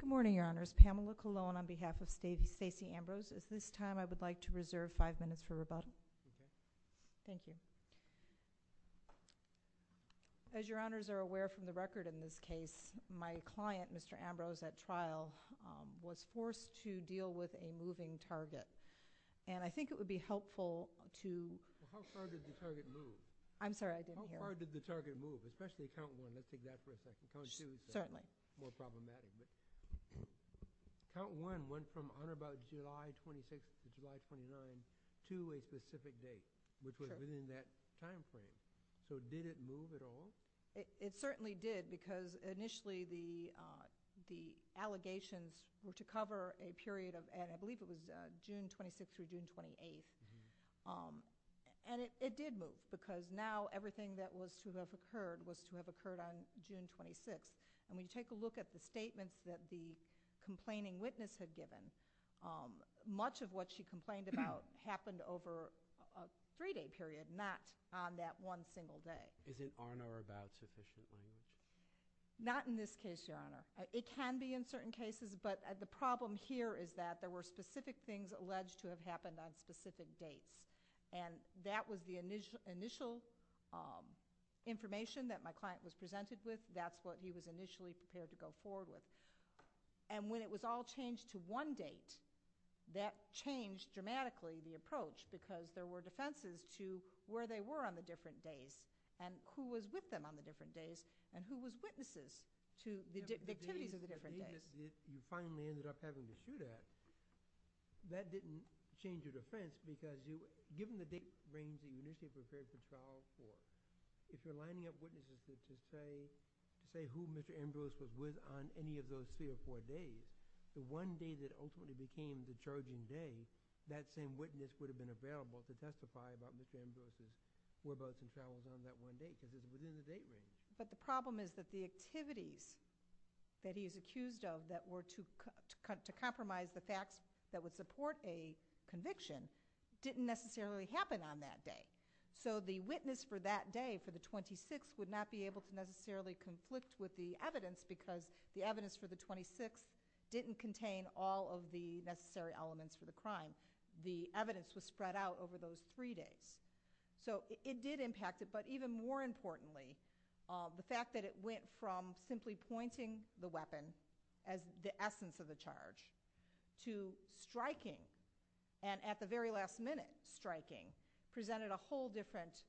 Good morning, Your Honors. Pamela Colon on behalf of Stacey Ambrose. At this time, I would like to reserve five minutes for rebuttal. Thank you. As Your Honors are aware from the record in this case, my client, Mr. Ambrose, at trial was forced to deal with a moving target. And I think it would be helpful to Well, how far did the target move? I'm sorry, I didn't hear. How far did the target move? Especially at Count 1. Let's take that for a second. Count 2 is more problematic. Count 1 went from on about July 26th to July 29th to a specific date, which was within that time frame. So did it move at all? It certainly did because initially the allegations were to cover a period of, I believe it was June 26th through June 28th. And it did move because now everything that was to have occurred was to have occurred on June 26th. And when you take a look at the statements that the complaining witness had given, much of what she complained about happened over a three-day period, not on that one single day. Is it on or about sufficiently? Not in this case, Your Honor. It can be in certain cases, but the problem here is that there were specific things alleged to have happened on specific dates. And that was the initial information that my client was presented with. That's what he was initially prepared to go forward with. And when it was all changed to one date, that changed dramatically the approach because there were defenses to where they were on the different days. And who was with them on the different days and who was witnesses to the activities of the different days. You finally ended up having to shoot at. That didn't change your defense because given the date range that you initially prepared to file for, if you're lining up witnesses to say who Mr. Andrews was with on any of those three or four days, the one day that ultimately became the charging day, that same witness would have been available to testify about Mr. Andrews on that one date because of the date range. But the problem is that the activities that he is accused of that were to compromise the facts that would support a conviction didn't necessarily happen on that day. So the witness for that day, for the 26th, would not be able to necessarily conflict with the evidence because the evidence for the 26th didn't contain all of the necessary elements for the crime. The evidence was spread out over those three days. So it did impact it, but even more importantly, the fact that it went from simply pointing the weapon as the essence of the charge to striking and at the very last minute striking presented a whole different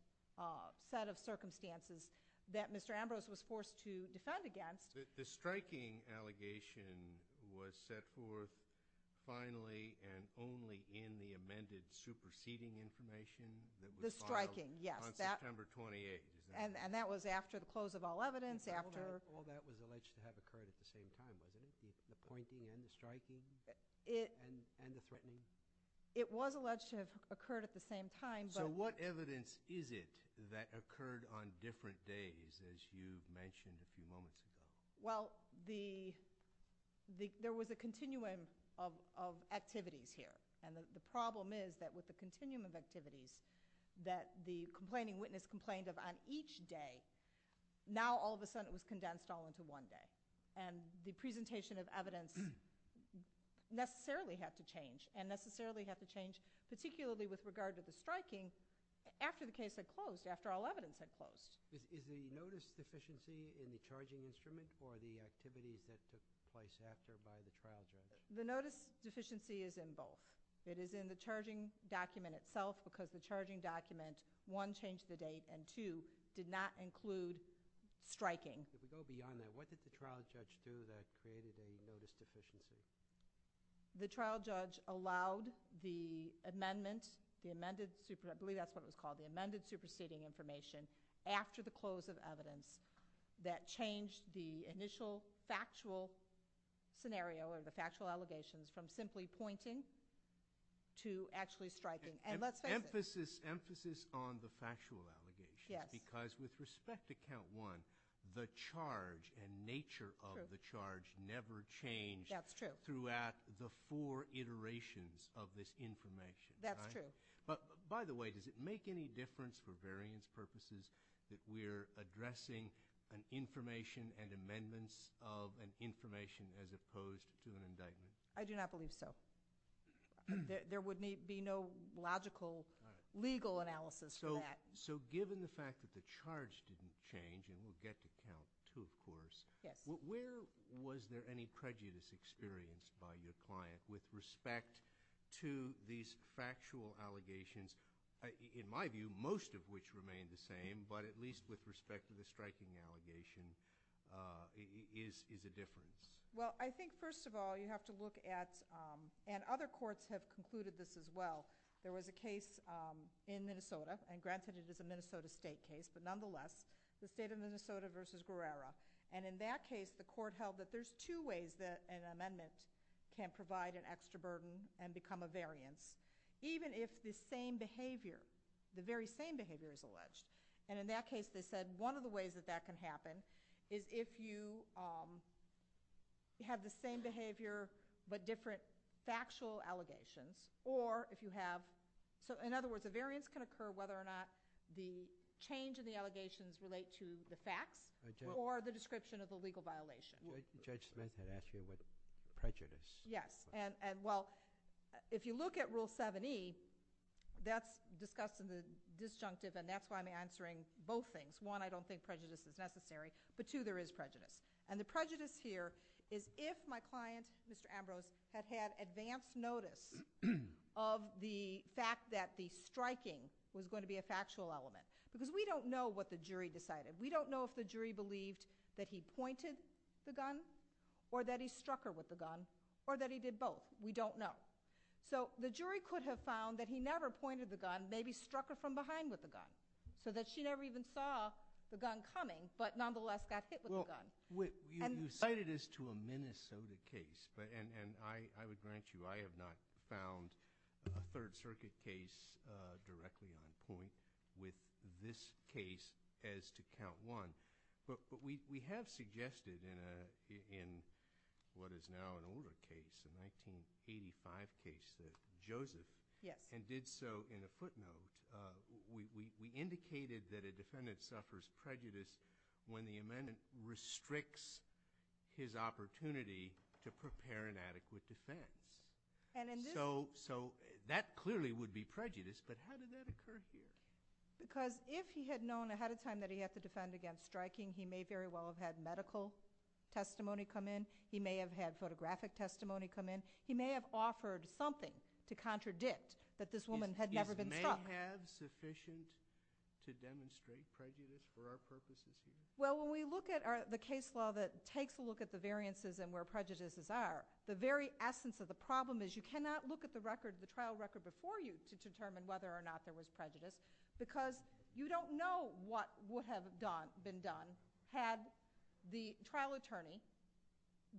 set of circumstances that Mr. Ambrose was forced to defend against. The striking allegation was set forth finally and only in the amended superseding information? The striking, yes. On September 28th. And that was after the close of all evidence, after... All that was alleged to have occurred at the same time, wasn't it? The pointing and the striking and the threatening? It was alleged to have occurred at the same time, but... Well, there was a continuum of activities here, and the problem is that with the continuum of activities that the complaining witness complained of on each day, now all of a sudden it was condensed all into one day. And the presentation of evidence necessarily had to change, and necessarily had to change particularly with regard to the striking after the case had closed, after all evidence had closed. Is the notice deficiency in the charging instrument or the activities that took place after by the trial judge? The notice deficiency is in both. It is in the charging document itself because the charging document, one, changed the date, and two, did not include striking. To go beyond that, what did the trial judge do that created a notice deficiency? The trial judge allowed the amendment, the amended, I believe that's what it was called, the amended superseding information after the close of evidence that changed the initial factual scenario or the factual allegations from simply pointing to actually striking. And let's face it. Emphasis on the factual allegations because with respect to count one, the charge and nature of the charge never changed throughout the four iterations of this information. That's true. By the way, does it make any difference for variance purposes that we're addressing an information and amendments of an information as opposed to an indictment? I do not believe so. There would be no logical legal analysis for that. So given the fact that the charge didn't change, and we'll get to count two of course, Where was there any prejudice experienced by your client with respect to these factual allegations, in my view, most of which remain the same, but at least with respect to the striking allegation, is a difference? Well, I think first of all you have to look at, and other courts have concluded this as well, there was a case in Minnesota, and granted it is a Minnesota state case, but nonetheless, the state of Minnesota versus Guerrera. And in that case, the court held that there's two ways that an amendment can provide an extra burden and become a variance, even if the same behavior, the very same behavior is alleged. And in that case, they said one of the ways that that can happen is if you have the same behavior but different factual allegations, or if you have, so in other words, a variance can occur whether or not the change in the allegations relate to the facts, or the description of a legal violation. Judge Smith had asked you about prejudice. Yes, and well, if you look at Rule 7e, that's discussed in the disjunctive, and that's why I'm answering both things. One, I don't think prejudice is necessary, but two, there is prejudice. And the prejudice here is if my client, Mr. Ambrose, had had advance notice of the fact that the striking was going to be a factual element. Because we don't know what the jury decided. We don't know if the jury believed that he pointed the gun, or that he struck her with the gun, or that he did both. We don't know. So the jury could have found that he never pointed the gun, maybe struck her from behind with the gun, so that she never even saw the gun coming, but nonetheless got hit with the gun. You cited this to a Minnesota case. And I would grant you I have not found a Third Circuit case directly on point with this case as to count one. But we have suggested in what is now an older case, a 1985 case that Joseph, and did so in a footnote, we indicated that a defendant suffers prejudice when the amendment restricts his opportunity to prepare an adequate defense. So that clearly would be prejudice, but how did that occur here? Because if he had known ahead of time that he had to defend against striking, he may very well have had medical testimony come in. He may have had photographic testimony come in. He may have offered something to contradict that this woman had never been struck. Is may have sufficient to demonstrate prejudice for our purposes here? Well, when we look at the case law that takes a look at the variances and where prejudices are, the very essence of the problem is you cannot look at the record, the trial record before you, to determine whether or not there was prejudice, because you don't know what would have been done had the trial attorney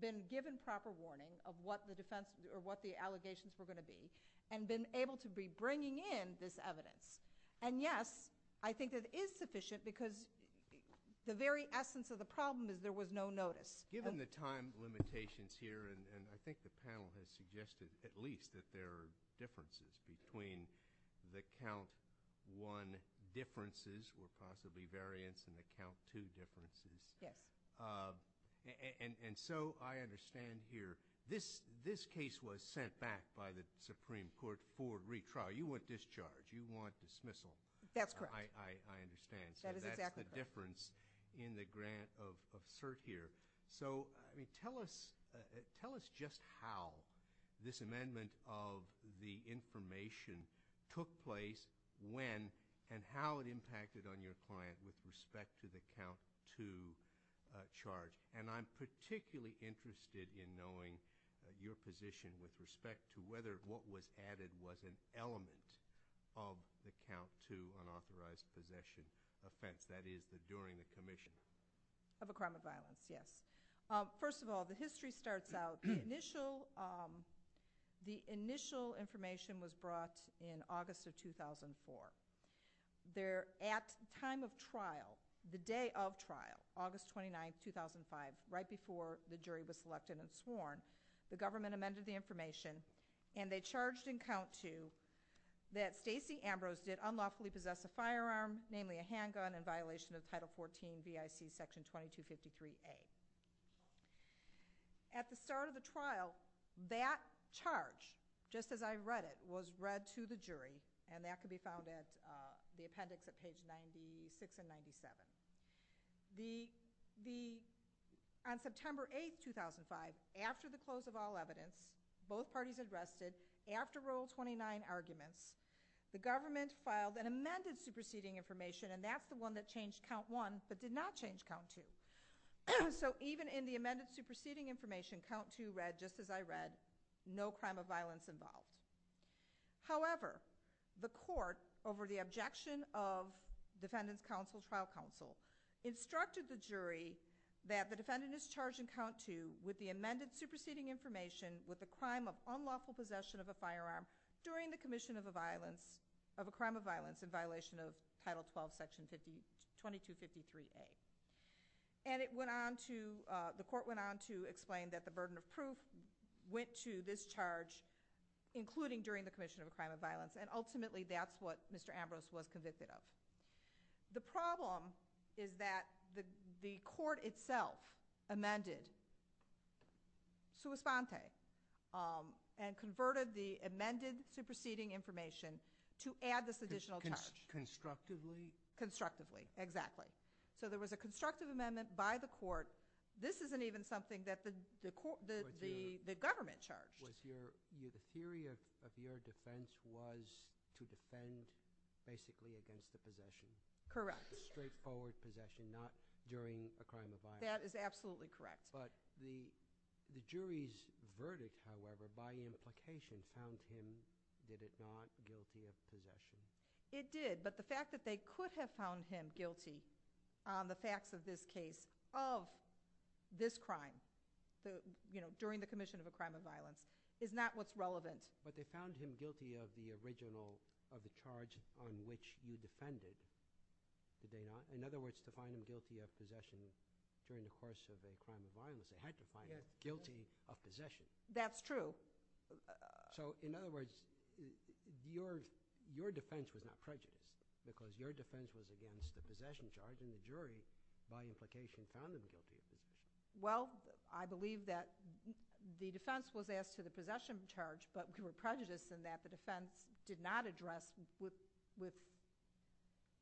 been given proper warning of what the allegations were going to be and been able to be bringing in this evidence. And yes, I think it is sufficient because the very essence of the problem is there was no notice. Given the time limitations here, and I think the panel has suggested at least that there are differences between the count one differences or possibly variance in the count two differences. Yes. And so I understand here this case was sent back by the Supreme Court for retrial. You want discharge. You want dismissal. That's correct. I understand. That is exactly correct. So that's the difference in the grant of cert here. So tell us just how this amendment of the information took place when and how it impacted on your client with respect to the count two charge. And I'm particularly interested in knowing your position with respect to whether what was added was an element of the count two unauthorized possession offense, that is, during the commission. Of a crime of violence, yes. First of all, the history starts out. The initial information was brought in August of 2004. At the time of trial, the day of trial, August 29, 2005, right before the jury was selected and sworn, the government amended the information and they charged in count two that Stacey Ambrose did unlawfully possess a firearm, namely a handgun, in violation of Title 14 BIC Section 2253A. At the start of the trial, that charge, just as I read it, was read to the jury, and that can be found at the appendix at page 96 and 97. On September 8, 2005, after the close of all evidence, both parties arrested, after Rule 29 arguments, the government filed an amended superseding information, and that's the one that changed count one but did not change count two. So even in the amended superseding information, count two read, just as I read, no crime of violence involved. However, the court, over the objection of Defendant's Counsel, Trial Counsel, instructed the jury that the defendant is charged in count two with the amended superseding information with the crime of unlawful possession of a firearm during the commission of a crime of violence in violation of Title 12 Section 2253A. And the court went on to explain that the burden of proof went to this charge, including during the commission of a crime of violence, and ultimately that's what Mr. Ambrose was convicted of. The problem is that the court itself amended sua sponte, and converted the amended superseding information to add this additional charge. Constructively? Constructively, exactly. So there was a constructive amendment by the court. This isn't even something that the government charged. The theory of your defense was to defend basically against the possession. Correct. Straightforward possession, not during a crime of violence. That is absolutely correct. But the jury's verdict, however, by implication, found him, did it not, guilty of possession? It did, but the fact that they could have found him guilty on the facts of this case, of this crime, during the commission of a crime of violence, is not what's relevant. But they found him guilty of the original, of the charge on which you defended, did they not? In other words, to find him guilty of possession during the course of a crime of violence, they had to find him guilty of possession. That's true. So, in other words, your defense was not prejudiced, because your defense was against the possession charge, and the jury, by implication, found him guilty. Well, I believe that the defense was asked to the possession charge, but we were prejudiced in that the defense did not address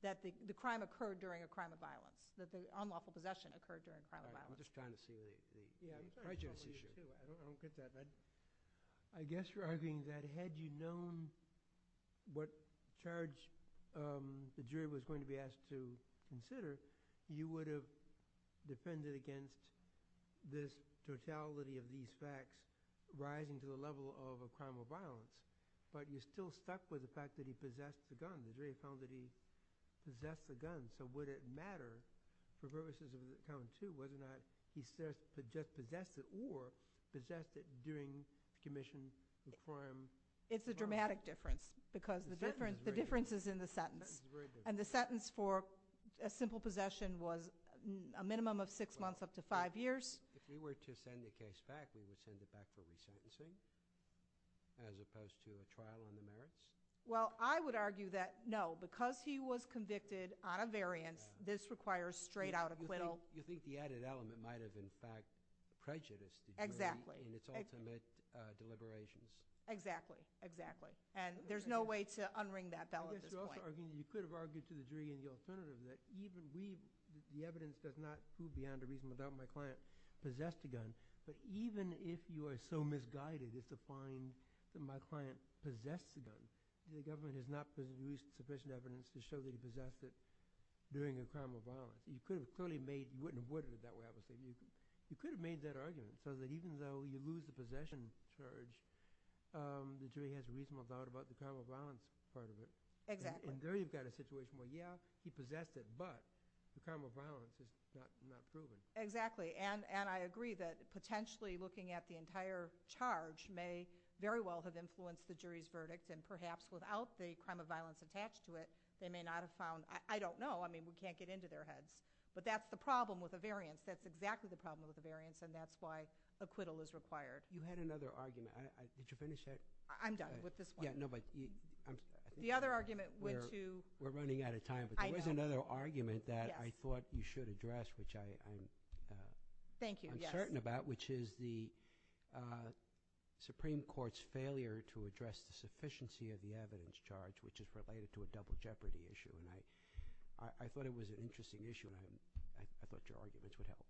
that the crime occurred during a crime of violence, that the unlawful possession occurred during a crime of violence. I'm just trying to see the prejudice issue. I don't get that. I guess you're arguing that had you known what charge the jury was going to be asked to consider, you would have defended against this totality of these facts, rising to the level of a crime of violence. But you still stuck with the fact that he possessed a gun. The jury found that he possessed a gun. So, would it matter for purposes of the count, too, whether or not he possessed it or possessed it during the commission of the crime? It's a dramatic difference, because the difference is in the sentence. And the sentence for a simple possession was a minimum of six months up to five years. If we were to send the case back, we would send it back for resentencing, as opposed to a trial on the merits? Well, I would argue that no. Because he was convicted on a variance, this requires straight-out acquittal. You think the added element might have, in fact, prejudiced the jury in its ultimate deliberations. Exactly. Exactly. And there's no way to unring that bell at this point. I guess you could have argued to the jury in the alternative that the evidence does not prove beyond a reason about my client possessed a gun. But even if you are so misguided as to find that my client possessed a gun, the government has not produced sufficient evidence to show that he possessed it during a crime of violence. You could have clearly made – you wouldn't have avoided it that way, I would say. You could have made that argument, so that even though you lose the possession charge, the jury has a reasonable doubt about the crime of violence part of it. Exactly. And there you've got a situation where, yeah, he possessed it, but the crime of violence is not proven. Exactly. And I agree that potentially looking at the entire charge may very well have influenced the jury's verdict, and perhaps without the crime of violence attached to it, they may not have found – I don't know. I mean, we can't get into their heads. But that's the problem with a variance. That's exactly the problem with a variance, and that's why acquittal is required. You had another argument. Would you finish that? I'm done with this one. Yeah, no, but – The other argument went to – We're running out of time. There was another argument that I thought you should address, which I'm uncertain about, which is the Supreme Court's failure to address the sufficiency of the evidence charge, which is related to a double jeopardy issue. And I thought it was an interesting issue, and I thought your arguments would help.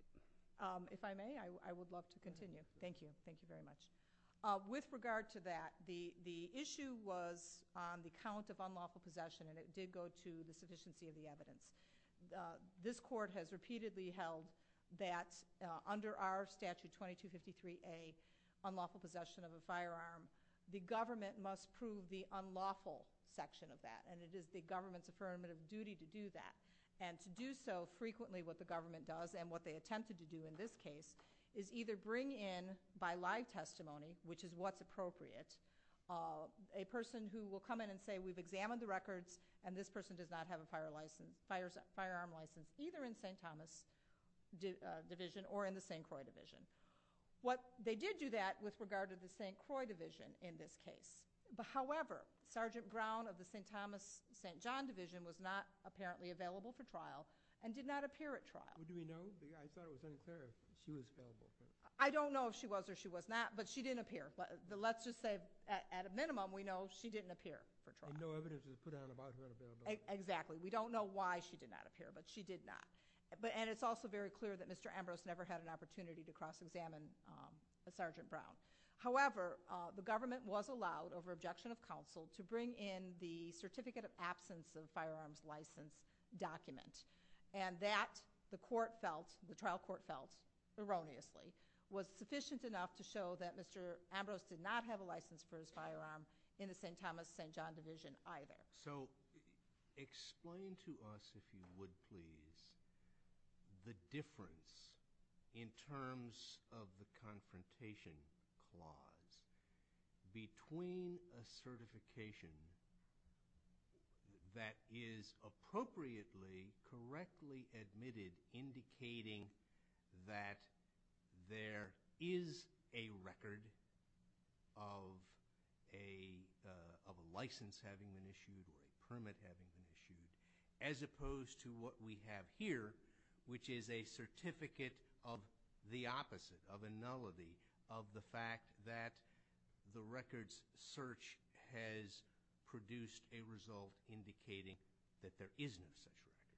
If I may, I would love to continue. Thank you. Thank you very much. With regard to that, the issue was the count of unlawful possession, and it did go to the sufficiency of the evidence. This Court has repeatedly held that under our statute 2253A, unlawful possession of a firearm, the government must prove the unlawful section of that, and it is the government's affirmative duty to do that. And to do so frequently, what the government does, and what they attempted to do in this case, is either bring in by live testimony, which is what's appropriate, a person who will come in and say, we've examined the records, and this person does not have a firearm license, either in St. Thomas Division or in the St. Croix Division. They did do that with regard to the St. Croix Division in this case. However, Sergeant Brown of the St. Thomas-St. John Division was not apparently available for trial and did not appear at trial. Do we know? I thought it was unfair if she was available. I don't know if she was or she was not, but she didn't appear. But let's just say, at a minimum, we know she didn't appear for trial. And no evidence was put out about her availability. Exactly. We don't know why she did not appear, but she did not. And it's also very clear that Mr. Ambrose never had an opportunity to cross-examine Sergeant Brown. However, the government was allowed, over objection of counsel, to bring in the Certificate of Absence of Firearms License document, and that the court felt, the trial court felt, erroneously, was sufficient enough to show that Mr. Ambrose did not have a license for his firearm in the St. Thomas-St. John Division either. So, explain to us, if you would please, the difference in terms of the Confrontation Clause between a certification that is appropriately, correctly admitted, indicating that there is a record of a license having been issued or a permit having been issued, as opposed to what we have here, which is a certificate of the opposite, of a nullity, of the fact that the records search has produced a result indicating that there is no such record.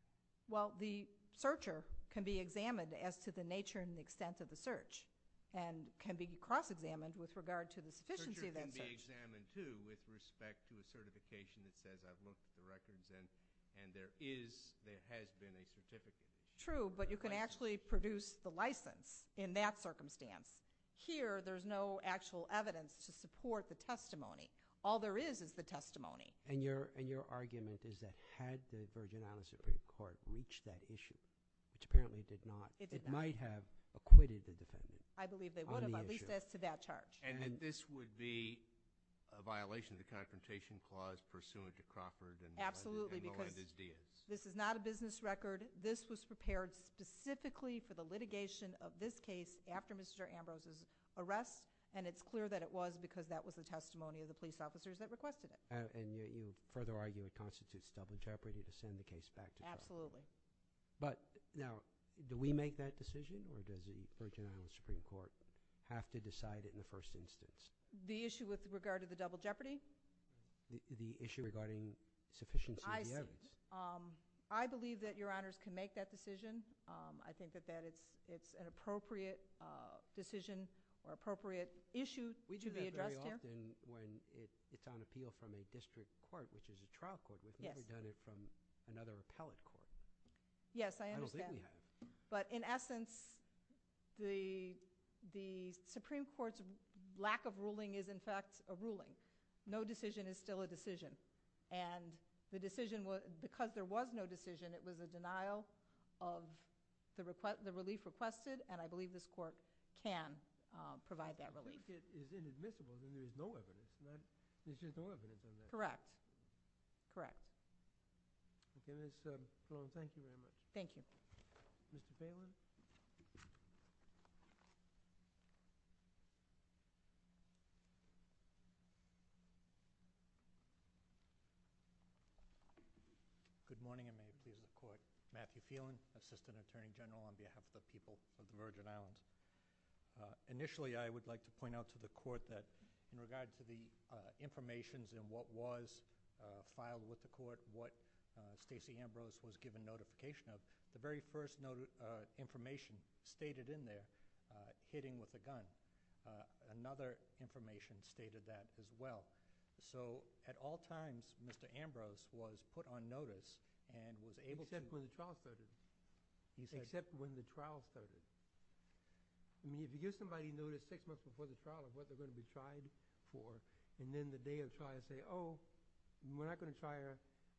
Well, the searcher can be examined as to the nature and extent of the search and can be cross-examined with regard to the sufficiency of that search. The searcher can be examined, too, with respect to a certification that says, I've looked at the records and there is, there has been a certificate. True, but you can actually produce the license in that circumstance. Here, there's no actual evidence to support the testimony. All there is, is the testimony. And your argument is that had the Virgin Islands Supreme Court reached that issue, which apparently did not, it might have acquitted the defendant on the issue. I believe they would have, at least as to that charge. And that this would be a violation of the Confrontation Clause pursuant to Crawford and Melendez-Diaz? Absolutely, because this is not a business record. This was prepared specifically for the litigation of this case after Mr. Ambrose's arrest, and it's clear that it was because that was the testimony of the police officers that requested it. And you further argue it constitutes double jeopardy to send the case back to trial. Absolutely. But, now, do we make that decision, or does the Virgin Islands Supreme Court have to decide it in the first instance? The issue with regard to the double jeopardy? The issue regarding sufficiency of the evidence. I believe that Your Honors can make that decision. I think that it's an appropriate decision or appropriate issue to be addressed here. It's on appeal from a district court, which is a trial court. We could have done it from another appellate court. Yes, I understand. I don't think we have. But, in essence, the Supreme Court's lack of ruling is, in fact, a ruling. No decision is still a decision. And the decision, because there was no decision, it was a denial of the relief requested, and I believe this court can provide that relief. But, if it is inadmissible, then there's no evidence. There's just no evidence in there. Correct. Correct. Okay. Ms. Sloan, thank you very much. Thank you. Mr. Phelan? Good morning, and may it please the Court. Matthew Phelan, Assistant Attorney General on behalf of the people of the Virgin Islands. Initially, I would like to point out to the Court that, in regard to the information in what was filed with the Court, what Stacey Ambrose was given notification of, the very first information stated in there, hitting with a gun, another information stated that as well. So, at all times, Mr. Ambrose was put on notice and was able to— Except when the trial started. He said— Except when the trial started. I mean, if you give somebody notice six months before the trial of what they're going to be tried for, and then the day of the trial, say, oh, we're not going to try you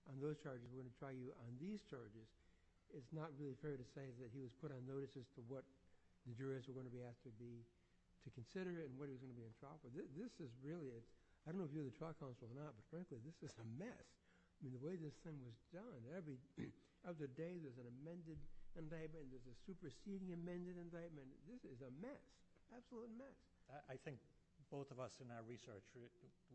on those charges, we're going to try you on these charges, it's not really fair to say that he was put on notice as to what the jurors were going to be asked to do to consider it and what he was going to be on trial for. This is really a—I don't know if you're the trial counsel or not, but frankly, this is a mess. I mean, the way this thing was done, every other day there's an amended— there's a superseding amended indictment. This is a mess. Absolute mess. I think both of us in our research,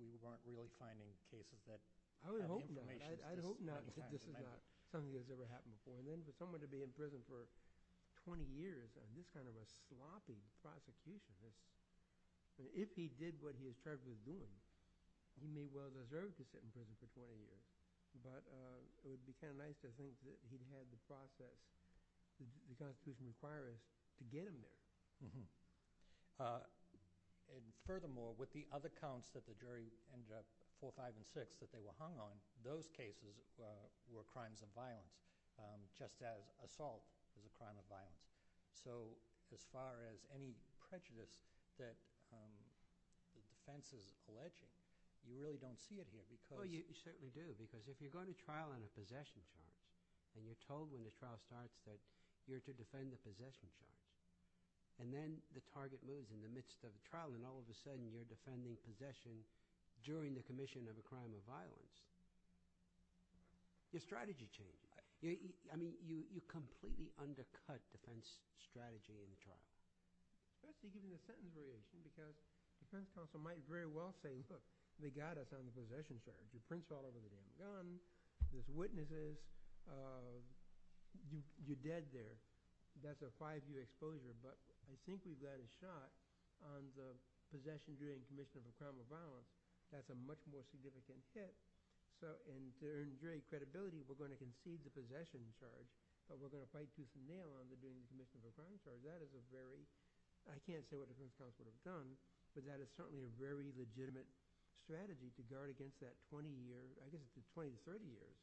we weren't really finding cases that— I would hope not. I would hope not because this is not something that has ever happened before. And then for someone to be in prison for 20 years on this kind of a sloppy prosecution, if he did what he was charged with doing, he may well deserve to sit in prison for 20 years. But it would be kind of nice to think that he'd had the process, the prosecution inquiry, to get him there. And furthermore, with the other counts that the jury ended up, 4, 5, and 6, that they were hung on, those cases were crimes of violence just as assault is a crime of violence. So as far as any prejudice that the defense is alleging, you really don't see it here because— Well, you certainly do because if you're going to trial on a possession charge and you're told when the trial starts that you're to defend the possession charge and then the target moves in the midst of the trial and all of a sudden you're defending possession during the commission of a crime of violence, your strategy changes. I mean you completely undercut the defense strategy in the trial. That's because of the sentence variation because the defense counsel might very well say, look, they got us on the possession charge. Your prints are all over the guns. There's witnesses. You're dead there. That's a five-year exposure. But I think we've got a shot on the possession during the commission of a crime of violence. That's a much more significant hit. So to earn jury credibility, we're going to concede the possession charge, but we're going to fight tooth and nail on the commission of a crime charge. That is a very—I can't say what the defense counsel would have done, but that is certainly a very legitimate strategy to dart against that 20 years. I guess it would be 20 to 30 years.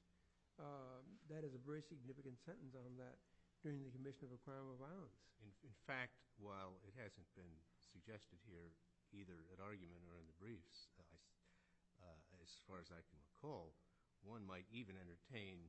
That is a very significant sentence on that during the commission of a crime of violence. In fact, while it hasn't been suggested here either at argument or in the briefs, as far as I can recall, one might even entertain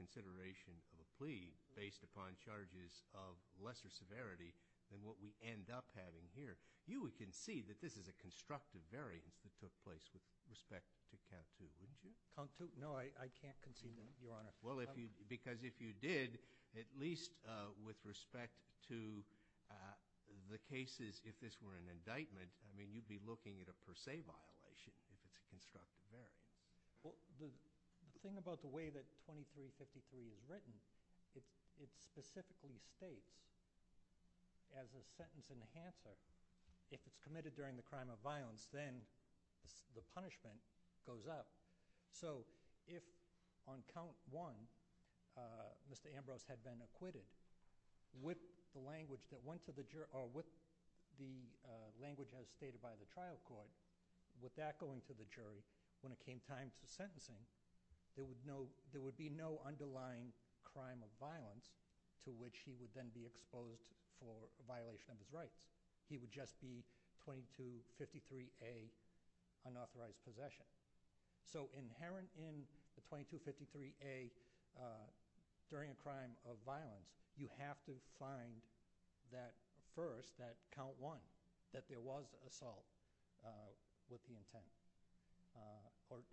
consideration of a plea based upon charges of lesser severity than what we end up having here. You would concede that this is a constructive variance that took place with respect to count two, wouldn't you? Count two? No, I can't concede that, Your Honor. Well, because if you did, at least with respect to the cases, if this were an indictment, I mean you'd be looking at a per se violation. It's a constructive variance. The thing about the way that 2353 is written, it specifically states as a sentence enhancer, if it's committed during the crime of violence, then the punishment goes up. So if on count one, Mr. Ambrose had been acquitted with the language that went to the jury or with the language as stated by the trial court, with that going to the jury, when it came time for sentencing, there would be no underlying crime of violence to which he would then be exposed for a violation of his rights. He would just be 2253A, unauthorized possession. So inherent in the 2253A, during a crime of violence, you have to find that first, that count one, that there was assault with the intent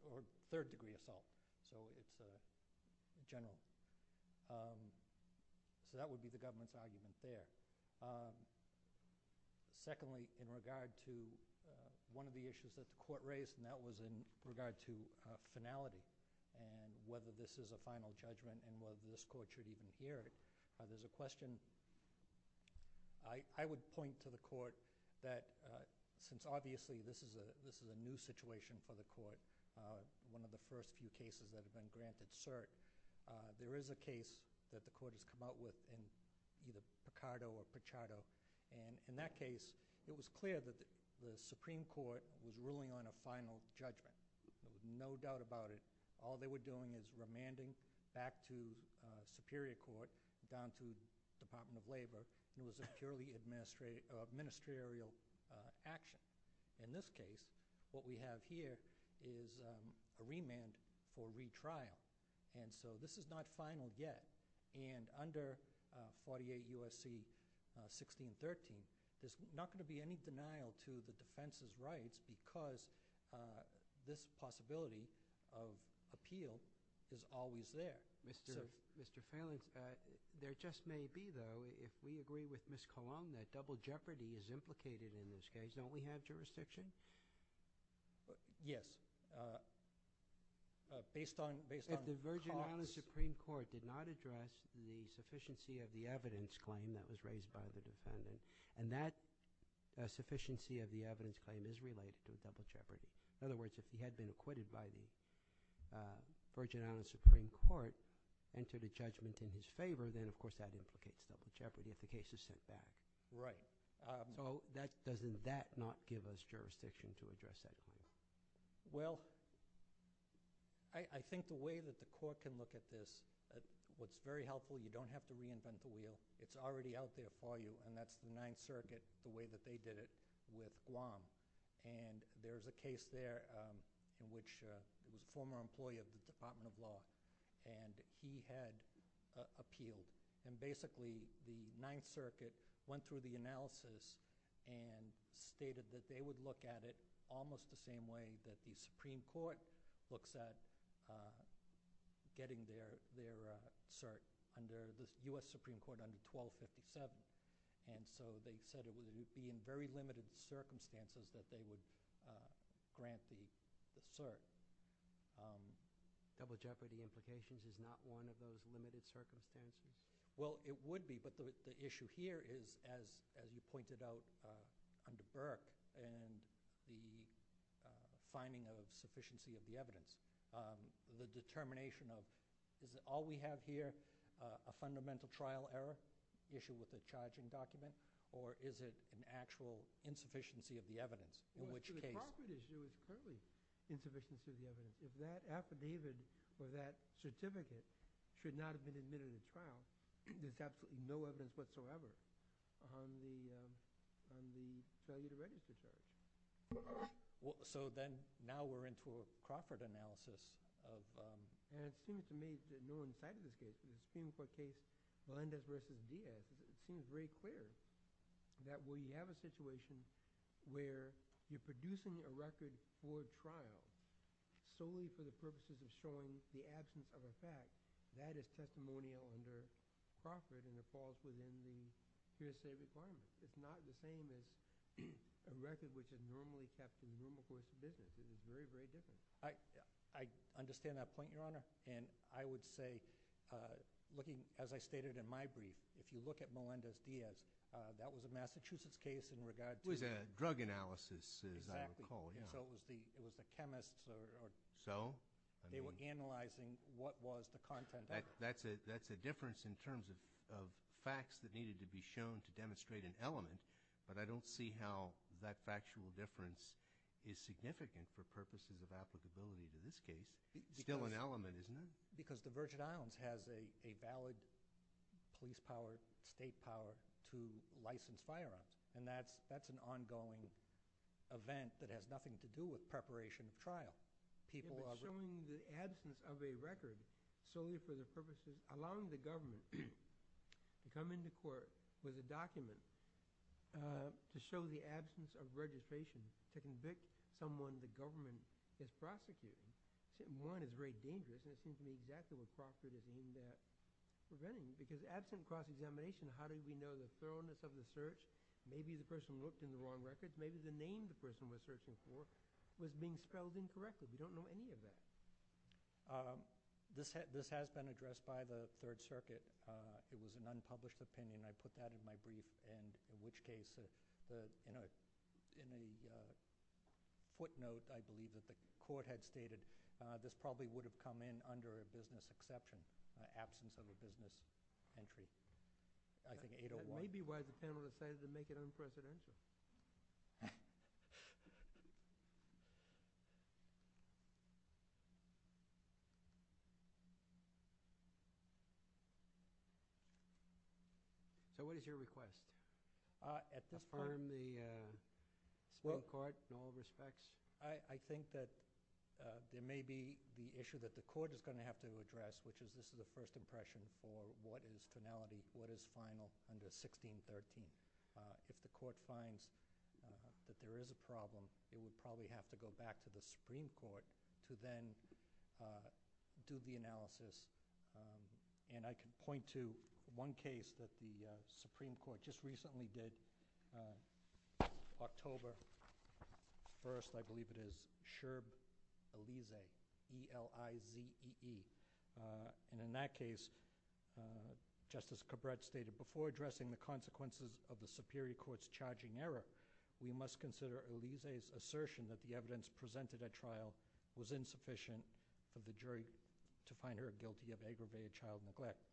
or third degree assault. So it's general. So that would be the government's argument there. Secondly, in regard to one of the issues that the court raised, and that was in regard to finality and whether this is a final judgment and whether this court should even hear it, there's a question. I would point to the court that since obviously this is a new situation for the court, one of the first few cases that have been granted cert, there is a case that the court has come out with in either Picardo or Pichardo, and in that case it was clear that the Supreme Court was ruling on a final judgment. There was no doubt about it. All they were doing is remanding back to Superior Court, down to the Department of Labor, and it was a purely administrative action. In this case, what we have here is a remand for retrial. So this is not final yet, and under 48 U.S.C. 1613, there's not going to be any denial to the defense's rights because this possibility of appeal is always there. Mr. Phelan, there just may be, though, if we agree with Ms. Colon, that double jeopardy is implicated in this case. Don't we have jurisdiction? Yes. If the Virgin Islands Supreme Court did not address the sufficiency of the evidence claim that was raised by the defendant, and that sufficiency of the evidence claim is related to double jeopardy. In other words, if he had been acquitted by the Virgin Islands Supreme Court and to the judgment in his favor, then, of course, that implicates double jeopardy if the case is sent back. Right. Doesn't that not give us jurisdiction to address that case? Well, I think the way that the court can look at this, what's very helpful, you don't have to reinvent the wheel. It's already out there for you, and that's the Ninth Circuit, the way that they did it with Guam. And there's a case there in which the former employee of the Department of Law, and he had appealed. And basically, the Ninth Circuit went through the analysis and stated that they would look at it almost the same way that the Supreme Court looks at getting their cert under the U.S. Supreme Court under 1257. And so they said it would be in very limited circumstances that they would grant the cert. Double jeopardy implications is not one of those limited circumstances? Well, it would be, but the issue here is, as you pointed out under Burke, and the finding of sufficiency of the evidence, the determination of, is it all we have here a fundamental trial error issue with the charging document, or is it an actual insufficiency of the evidence? Well, in the Crawford issue, it's totally insufficiency of the evidence. If that affidavit or that certificate should not have been admitted in the trial, there's absolutely no evidence whatsoever on the cellular register. So then now we're into a Crawford analysis of – And it seems to me that no one cited this case. In the Supreme Court case, Melendez v. Diaz, it seems very clear that we have a situation where you're producing a record for a trial solely for the purposes of showing the absence of a fact. That is testimonial under Crawford, and it falls within the hearsay requirements. It's not the same as a record which is normally kept in normal course of business. It is very, very different. I understand that point, Your Honor. And I would say, looking, as I stated in my brief, if you look at Melendez-Diaz, that was a Massachusetts case in regard to – It was a drug analysis, as I recall. Exactly. And so it was the chemists or – So? They were analyzing what was the content of it. That's a difference in terms of facts that needed to be shown to demonstrate an element, but I don't see how that factual difference is significant for purposes of applicability in this case. It's still an element, isn't it? Because the Virgin Islands has a valid police power, state power to license firearms, and that's an ongoing event that has nothing to do with preparation of trial. People are – They're showing the absence of a record solely for the purposes – allowing the government to come into court with a document to show the absence of registration to convict someone the government is prosecuting. One is very dangerous, and it seems to me exactly what prosecutors mean there. Because absent cross-examination, how do we know the thoroughness of the search? Maybe the person looked in the wrong records. Maybe the name the person was searching for was being spelled incorrectly. We don't know any of that. This has been addressed by the Third Circuit. It was an unpublished opinion. I put that in my brief. In which case, in the footnote, I believe, that the court had stated, this probably would have come in under a business exception, absence of a business entry. I think 801 – That may be why the panel decided to make it unprecedented. Thank you. So what is your request? Affirm the state court in all respects? I think that there may be the issue that the court is going to have to address, which is this is a first impression for what is finality, what is final under 1613. If the court finds that there is a problem, it would probably have to go back to the Supreme Court to then do the analysis. And I can point to one case that the Supreme Court just recently did, October 1st, I believe it is, Sherb-Elize, E-L-I-Z-E-E. And in that case, Justice Cabret stated, before addressing the consequences of the Superior Court's charging error, we must consider Elize's assertion that the evidence presented at trial was insufficient for the jury to find her guilty of aggravated child neglect.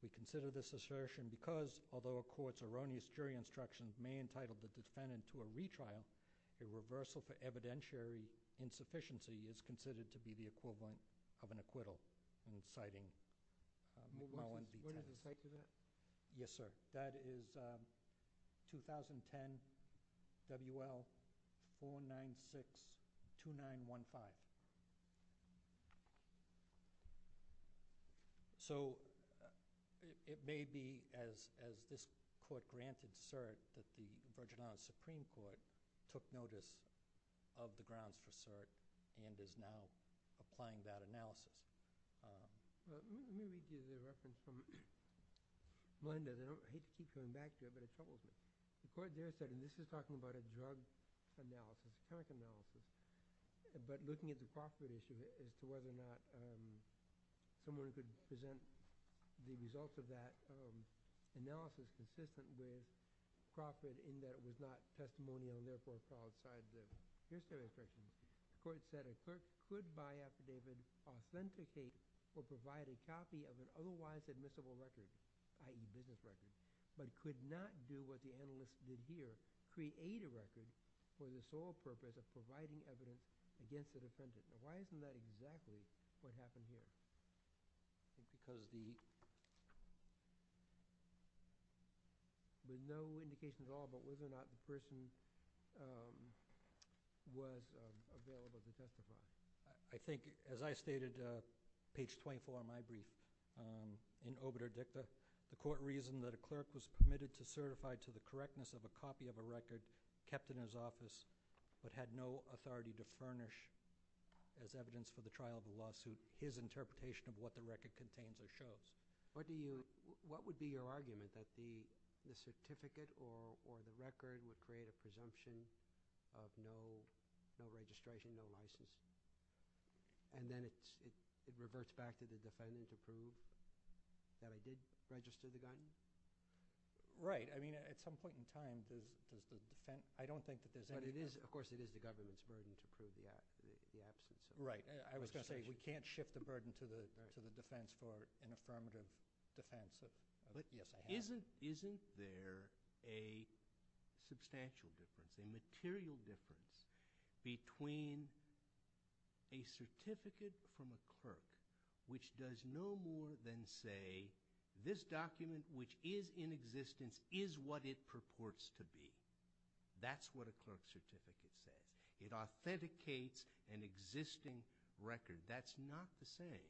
We consider this assertion because, although a court's erroneous jury instructions may entitle the defendant to a retrial, a reversal for evidentiary insufficiency is considered to be the equivalent of an acquittal. And it's citing Movement 1-B-10. What is the site for that? Yes, sir. That is 2010 W.L. 4962915. So it may be as this court granted cert that the Virginia Supreme Court took notice of the grounds for cert and is now applying that analysis. Let me give you a reference from Melinda. I hate to keep coming back to her, but I told you. The court there said, and this is talking about a drug analysis, but looking at the profit issue as to whether or not someone could present the results of that analysis consistently, profit in that it was not testimonial and, therefore, solid side judge. This is their assertion. The court said a cert could, by affidavit, authenticate or provide a copy of an otherwise admissible record, i.e., business record, but could not do what the analyst did here, which is create a record for the sole purpose of providing evidence against the defendant. Why isn't that exactly what happened here? Because there's no indication at all about whether or not the person was available to testify. I think, as I stated, page 24 of my brief, in obitur dicta, the court reasoned that a clerk was permitted to certify to the correctness of a copy of a record kept in his office but had no authority to furnish as evidence for the trial of a lawsuit his interpretation of what the record contains or shows. What would be your argument, that the certificate or the record would create a presumption of no registration, no license, and then it reverts back to the defendant to prove that I did register the gun? Right. I mean, at some point in time, I don't think that there's any… But, of course, it is the government's burden to prove the absence. Right. I was going to say we can't shift the burden to the defense for an affirmative defense. But isn't there a substantial difference, a material difference, between a certificate from a clerk which does no more than say this document which is in existence is what it purports to be. That's what a clerk's certificate says. It authenticates an existing record. That's not the same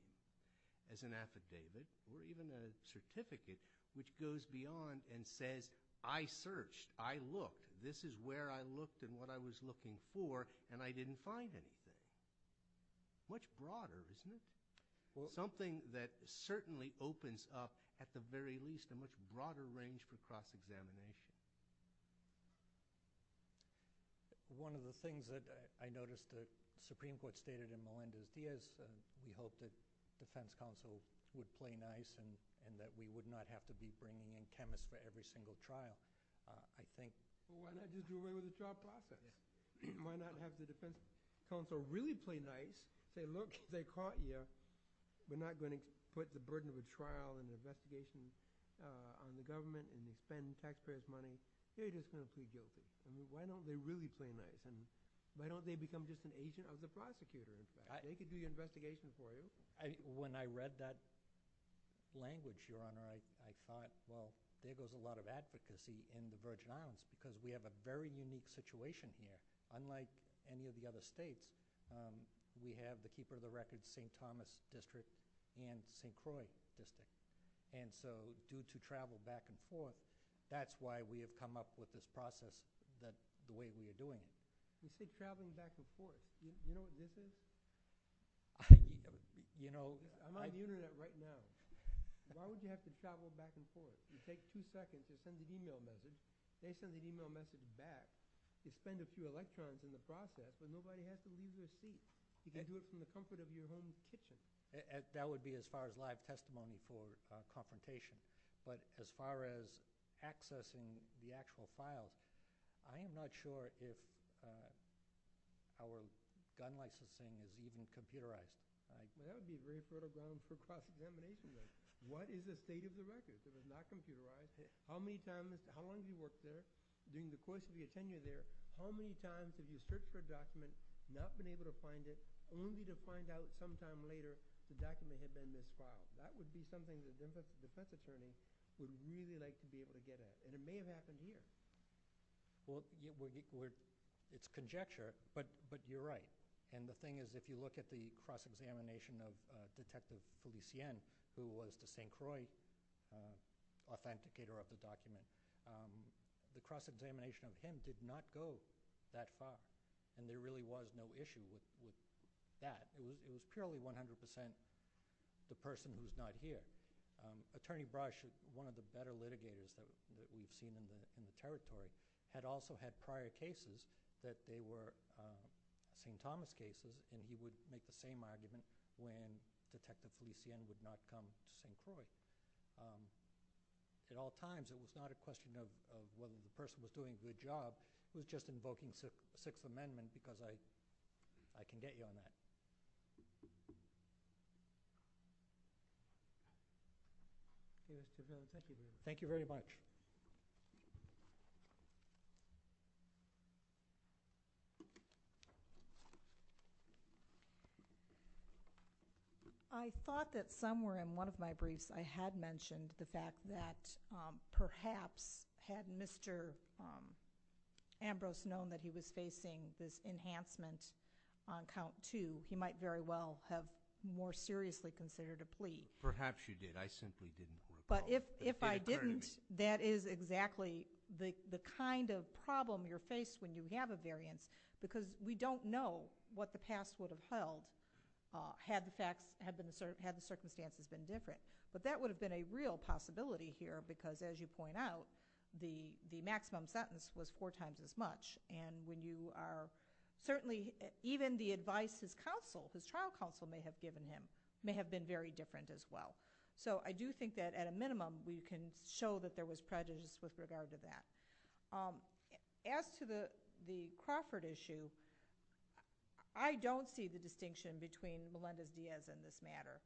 as an affidavit or even a certificate which goes beyond and says I searched, I looked, this is where I looked and what I was looking for, and I didn't find anything. Much broader, isn't it? Something that certainly opens up, at the very least, a much broader range for cross-examination. One of the things that I noticed that the Supreme Court stated in Melendez-Diaz and we hope that the defense counsel would play nice and that we would not have to be bringing in chemists for every single trial, I think… Why not just do away with the trial process? Why not have the defense counsel really play nice, say, look, they caught you. We're not going to put the burden of a trial and investigation on the government and spend taxpayers' money. They're just going to feel guilty. Why don't they really play nice? Why don't they become just an agent of the prosecutor? They could do the investigation for you. When I read that language, Your Honor, I thought, well, there goes a lot of advocacy in the Virgin Islands because we have a very unique situation here. Unlike any of the other states, we have the Keeper of the Record St. Thomas District and St. Croix District. And so due to travel back and forth, that's why we have come up with this process the way we are doing it. You said traveling back and forth. Do you know what this is? I'm on the Internet right now. Why would you have to travel back and forth? You take two seconds and send an email message. They send an email message back. You spend a few electrons in the process, and nobody has to leave their seat. You can do it from the comfort of your home kitchen. That would be as far as live testimony for confrontation. But as far as accessing the actual file, I am not sure if our gun licensing is even computerized. That would be very sort of down for cross-examination. What is the state of the record? If it's not computerized, how long have you worked there? During the course of your tenure there, how many times have you searched for a document, not been able to find it, only to find out sometime later the document had been misfiled? That would be something the defense attorney would really like to be able to get at. And it may have happened here. Well, it's conjecture, but you're right. And the thing is if you look at the cross-examination of Detective Felicien, who was the St. Croix authenticator of the document, the cross-examination of him did not go that far, and there really was no issue with that. It was purely 100% the person who's not here. Attorney Brush, one of the better litigators that we've seen in the territory, had also had prior cases that they were St. Thomas cases, and he would make the same argument when Detective Felicien did not come to St. Croix. So at all times it was not a question of whether the person was doing a good job. We're just invoking the Sixth Amendment because I can get you on that. Thank you very much. Thank you. I thought that somewhere in one of my briefs I had mentioned the fact that perhaps had Mr. Ambrose known that he was facing this enhancement on count two, he might very well have more seriously considered a plea. Perhaps you did. I simply didn't recall. But if I didn't, that is exactly the kind of problem you're faced when you have a variance because we don't know what the past would have held had the circumstances been different. But that would have been a real possibility here because, as you point out, the maximum sentence was four times as much. And certainly even the advice his trial counsel may have given him may have been very different as well. So I do think that at a minimum we can show that there was prejudice with regard to that. As to the Crawford issue, I don't see the distinction between Melendez-Diaz in this matter.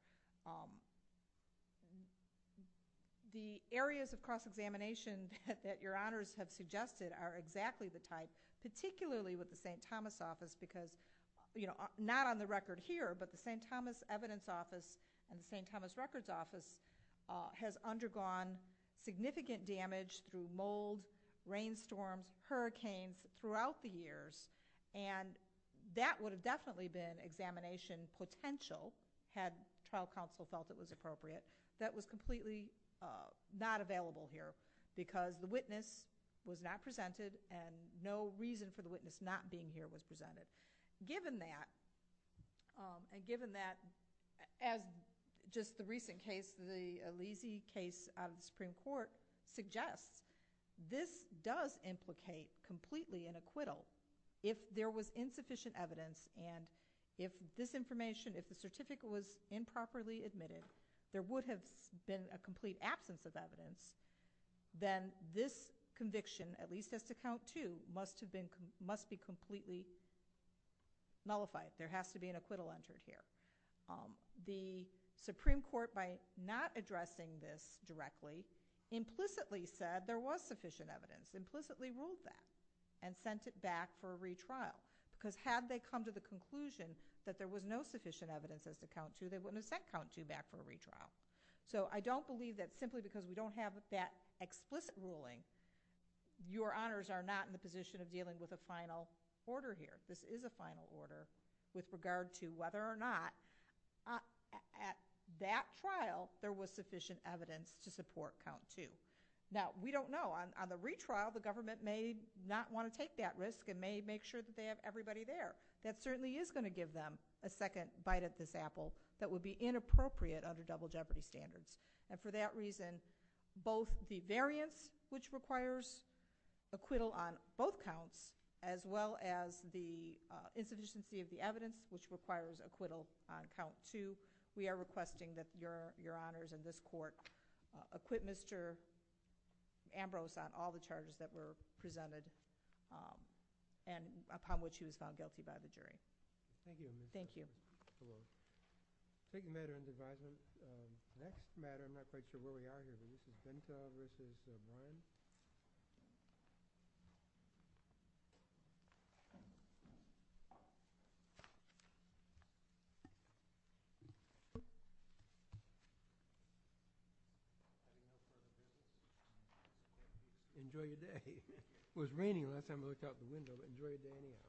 The areas of cross-examination that your honors have suggested are exactly the type, particularly with the St. Thomas office because, you know, not on the record here, but the St. Thomas evidence office and the St. Thomas records office has undergone significant damage through mold, rainstorms, hurricanes throughout the years. And that would have definitely been examination potential had trial counsel felt it was appropriate. That was completely not available here because the witness was not presented and no reason for the witness not being here was presented. Given that, and given that as just the recent case, the Alesi case out of the Supreme Court, suggests this does implicate completely an acquittal if there was insufficient evidence and if this information, if the certificate was improperly admitted, there would have been a complete absence of evidence, then this conviction, at least as to count two, must be completely nullified. There has to be an acquittal entered here. The Supreme Court, by not addressing this directly, implicitly said there was sufficient evidence, implicitly ruled that, and sent it back for a retrial. Because had they come to the conclusion that there was no sufficient evidence as to count two, So I don't believe that simply because we don't have that explicit ruling, your honors are not in the position of dealing with a final order here. This is a final order with regard to whether or not, at that trial, there was sufficient evidence to support count two. Now, we don't know. On the retrial, the government may not want to take that risk and may make sure that they have everybody there. That certainly is going to give them a second bite at this apple that would be inappropriate under double jeopardy standards. And for that reason, both the variance, which requires acquittal on both counts, as well as the insufficiency of the evidence, which requires acquittal on count two, we are requesting that your honors in this court acquit Mr. Ambrose on all the charges that were presented, and upon which he was found guilty by the jury. Thank you. Thank you. Enjoy your day It was raining when I looked out my window. Enjoy your day any how.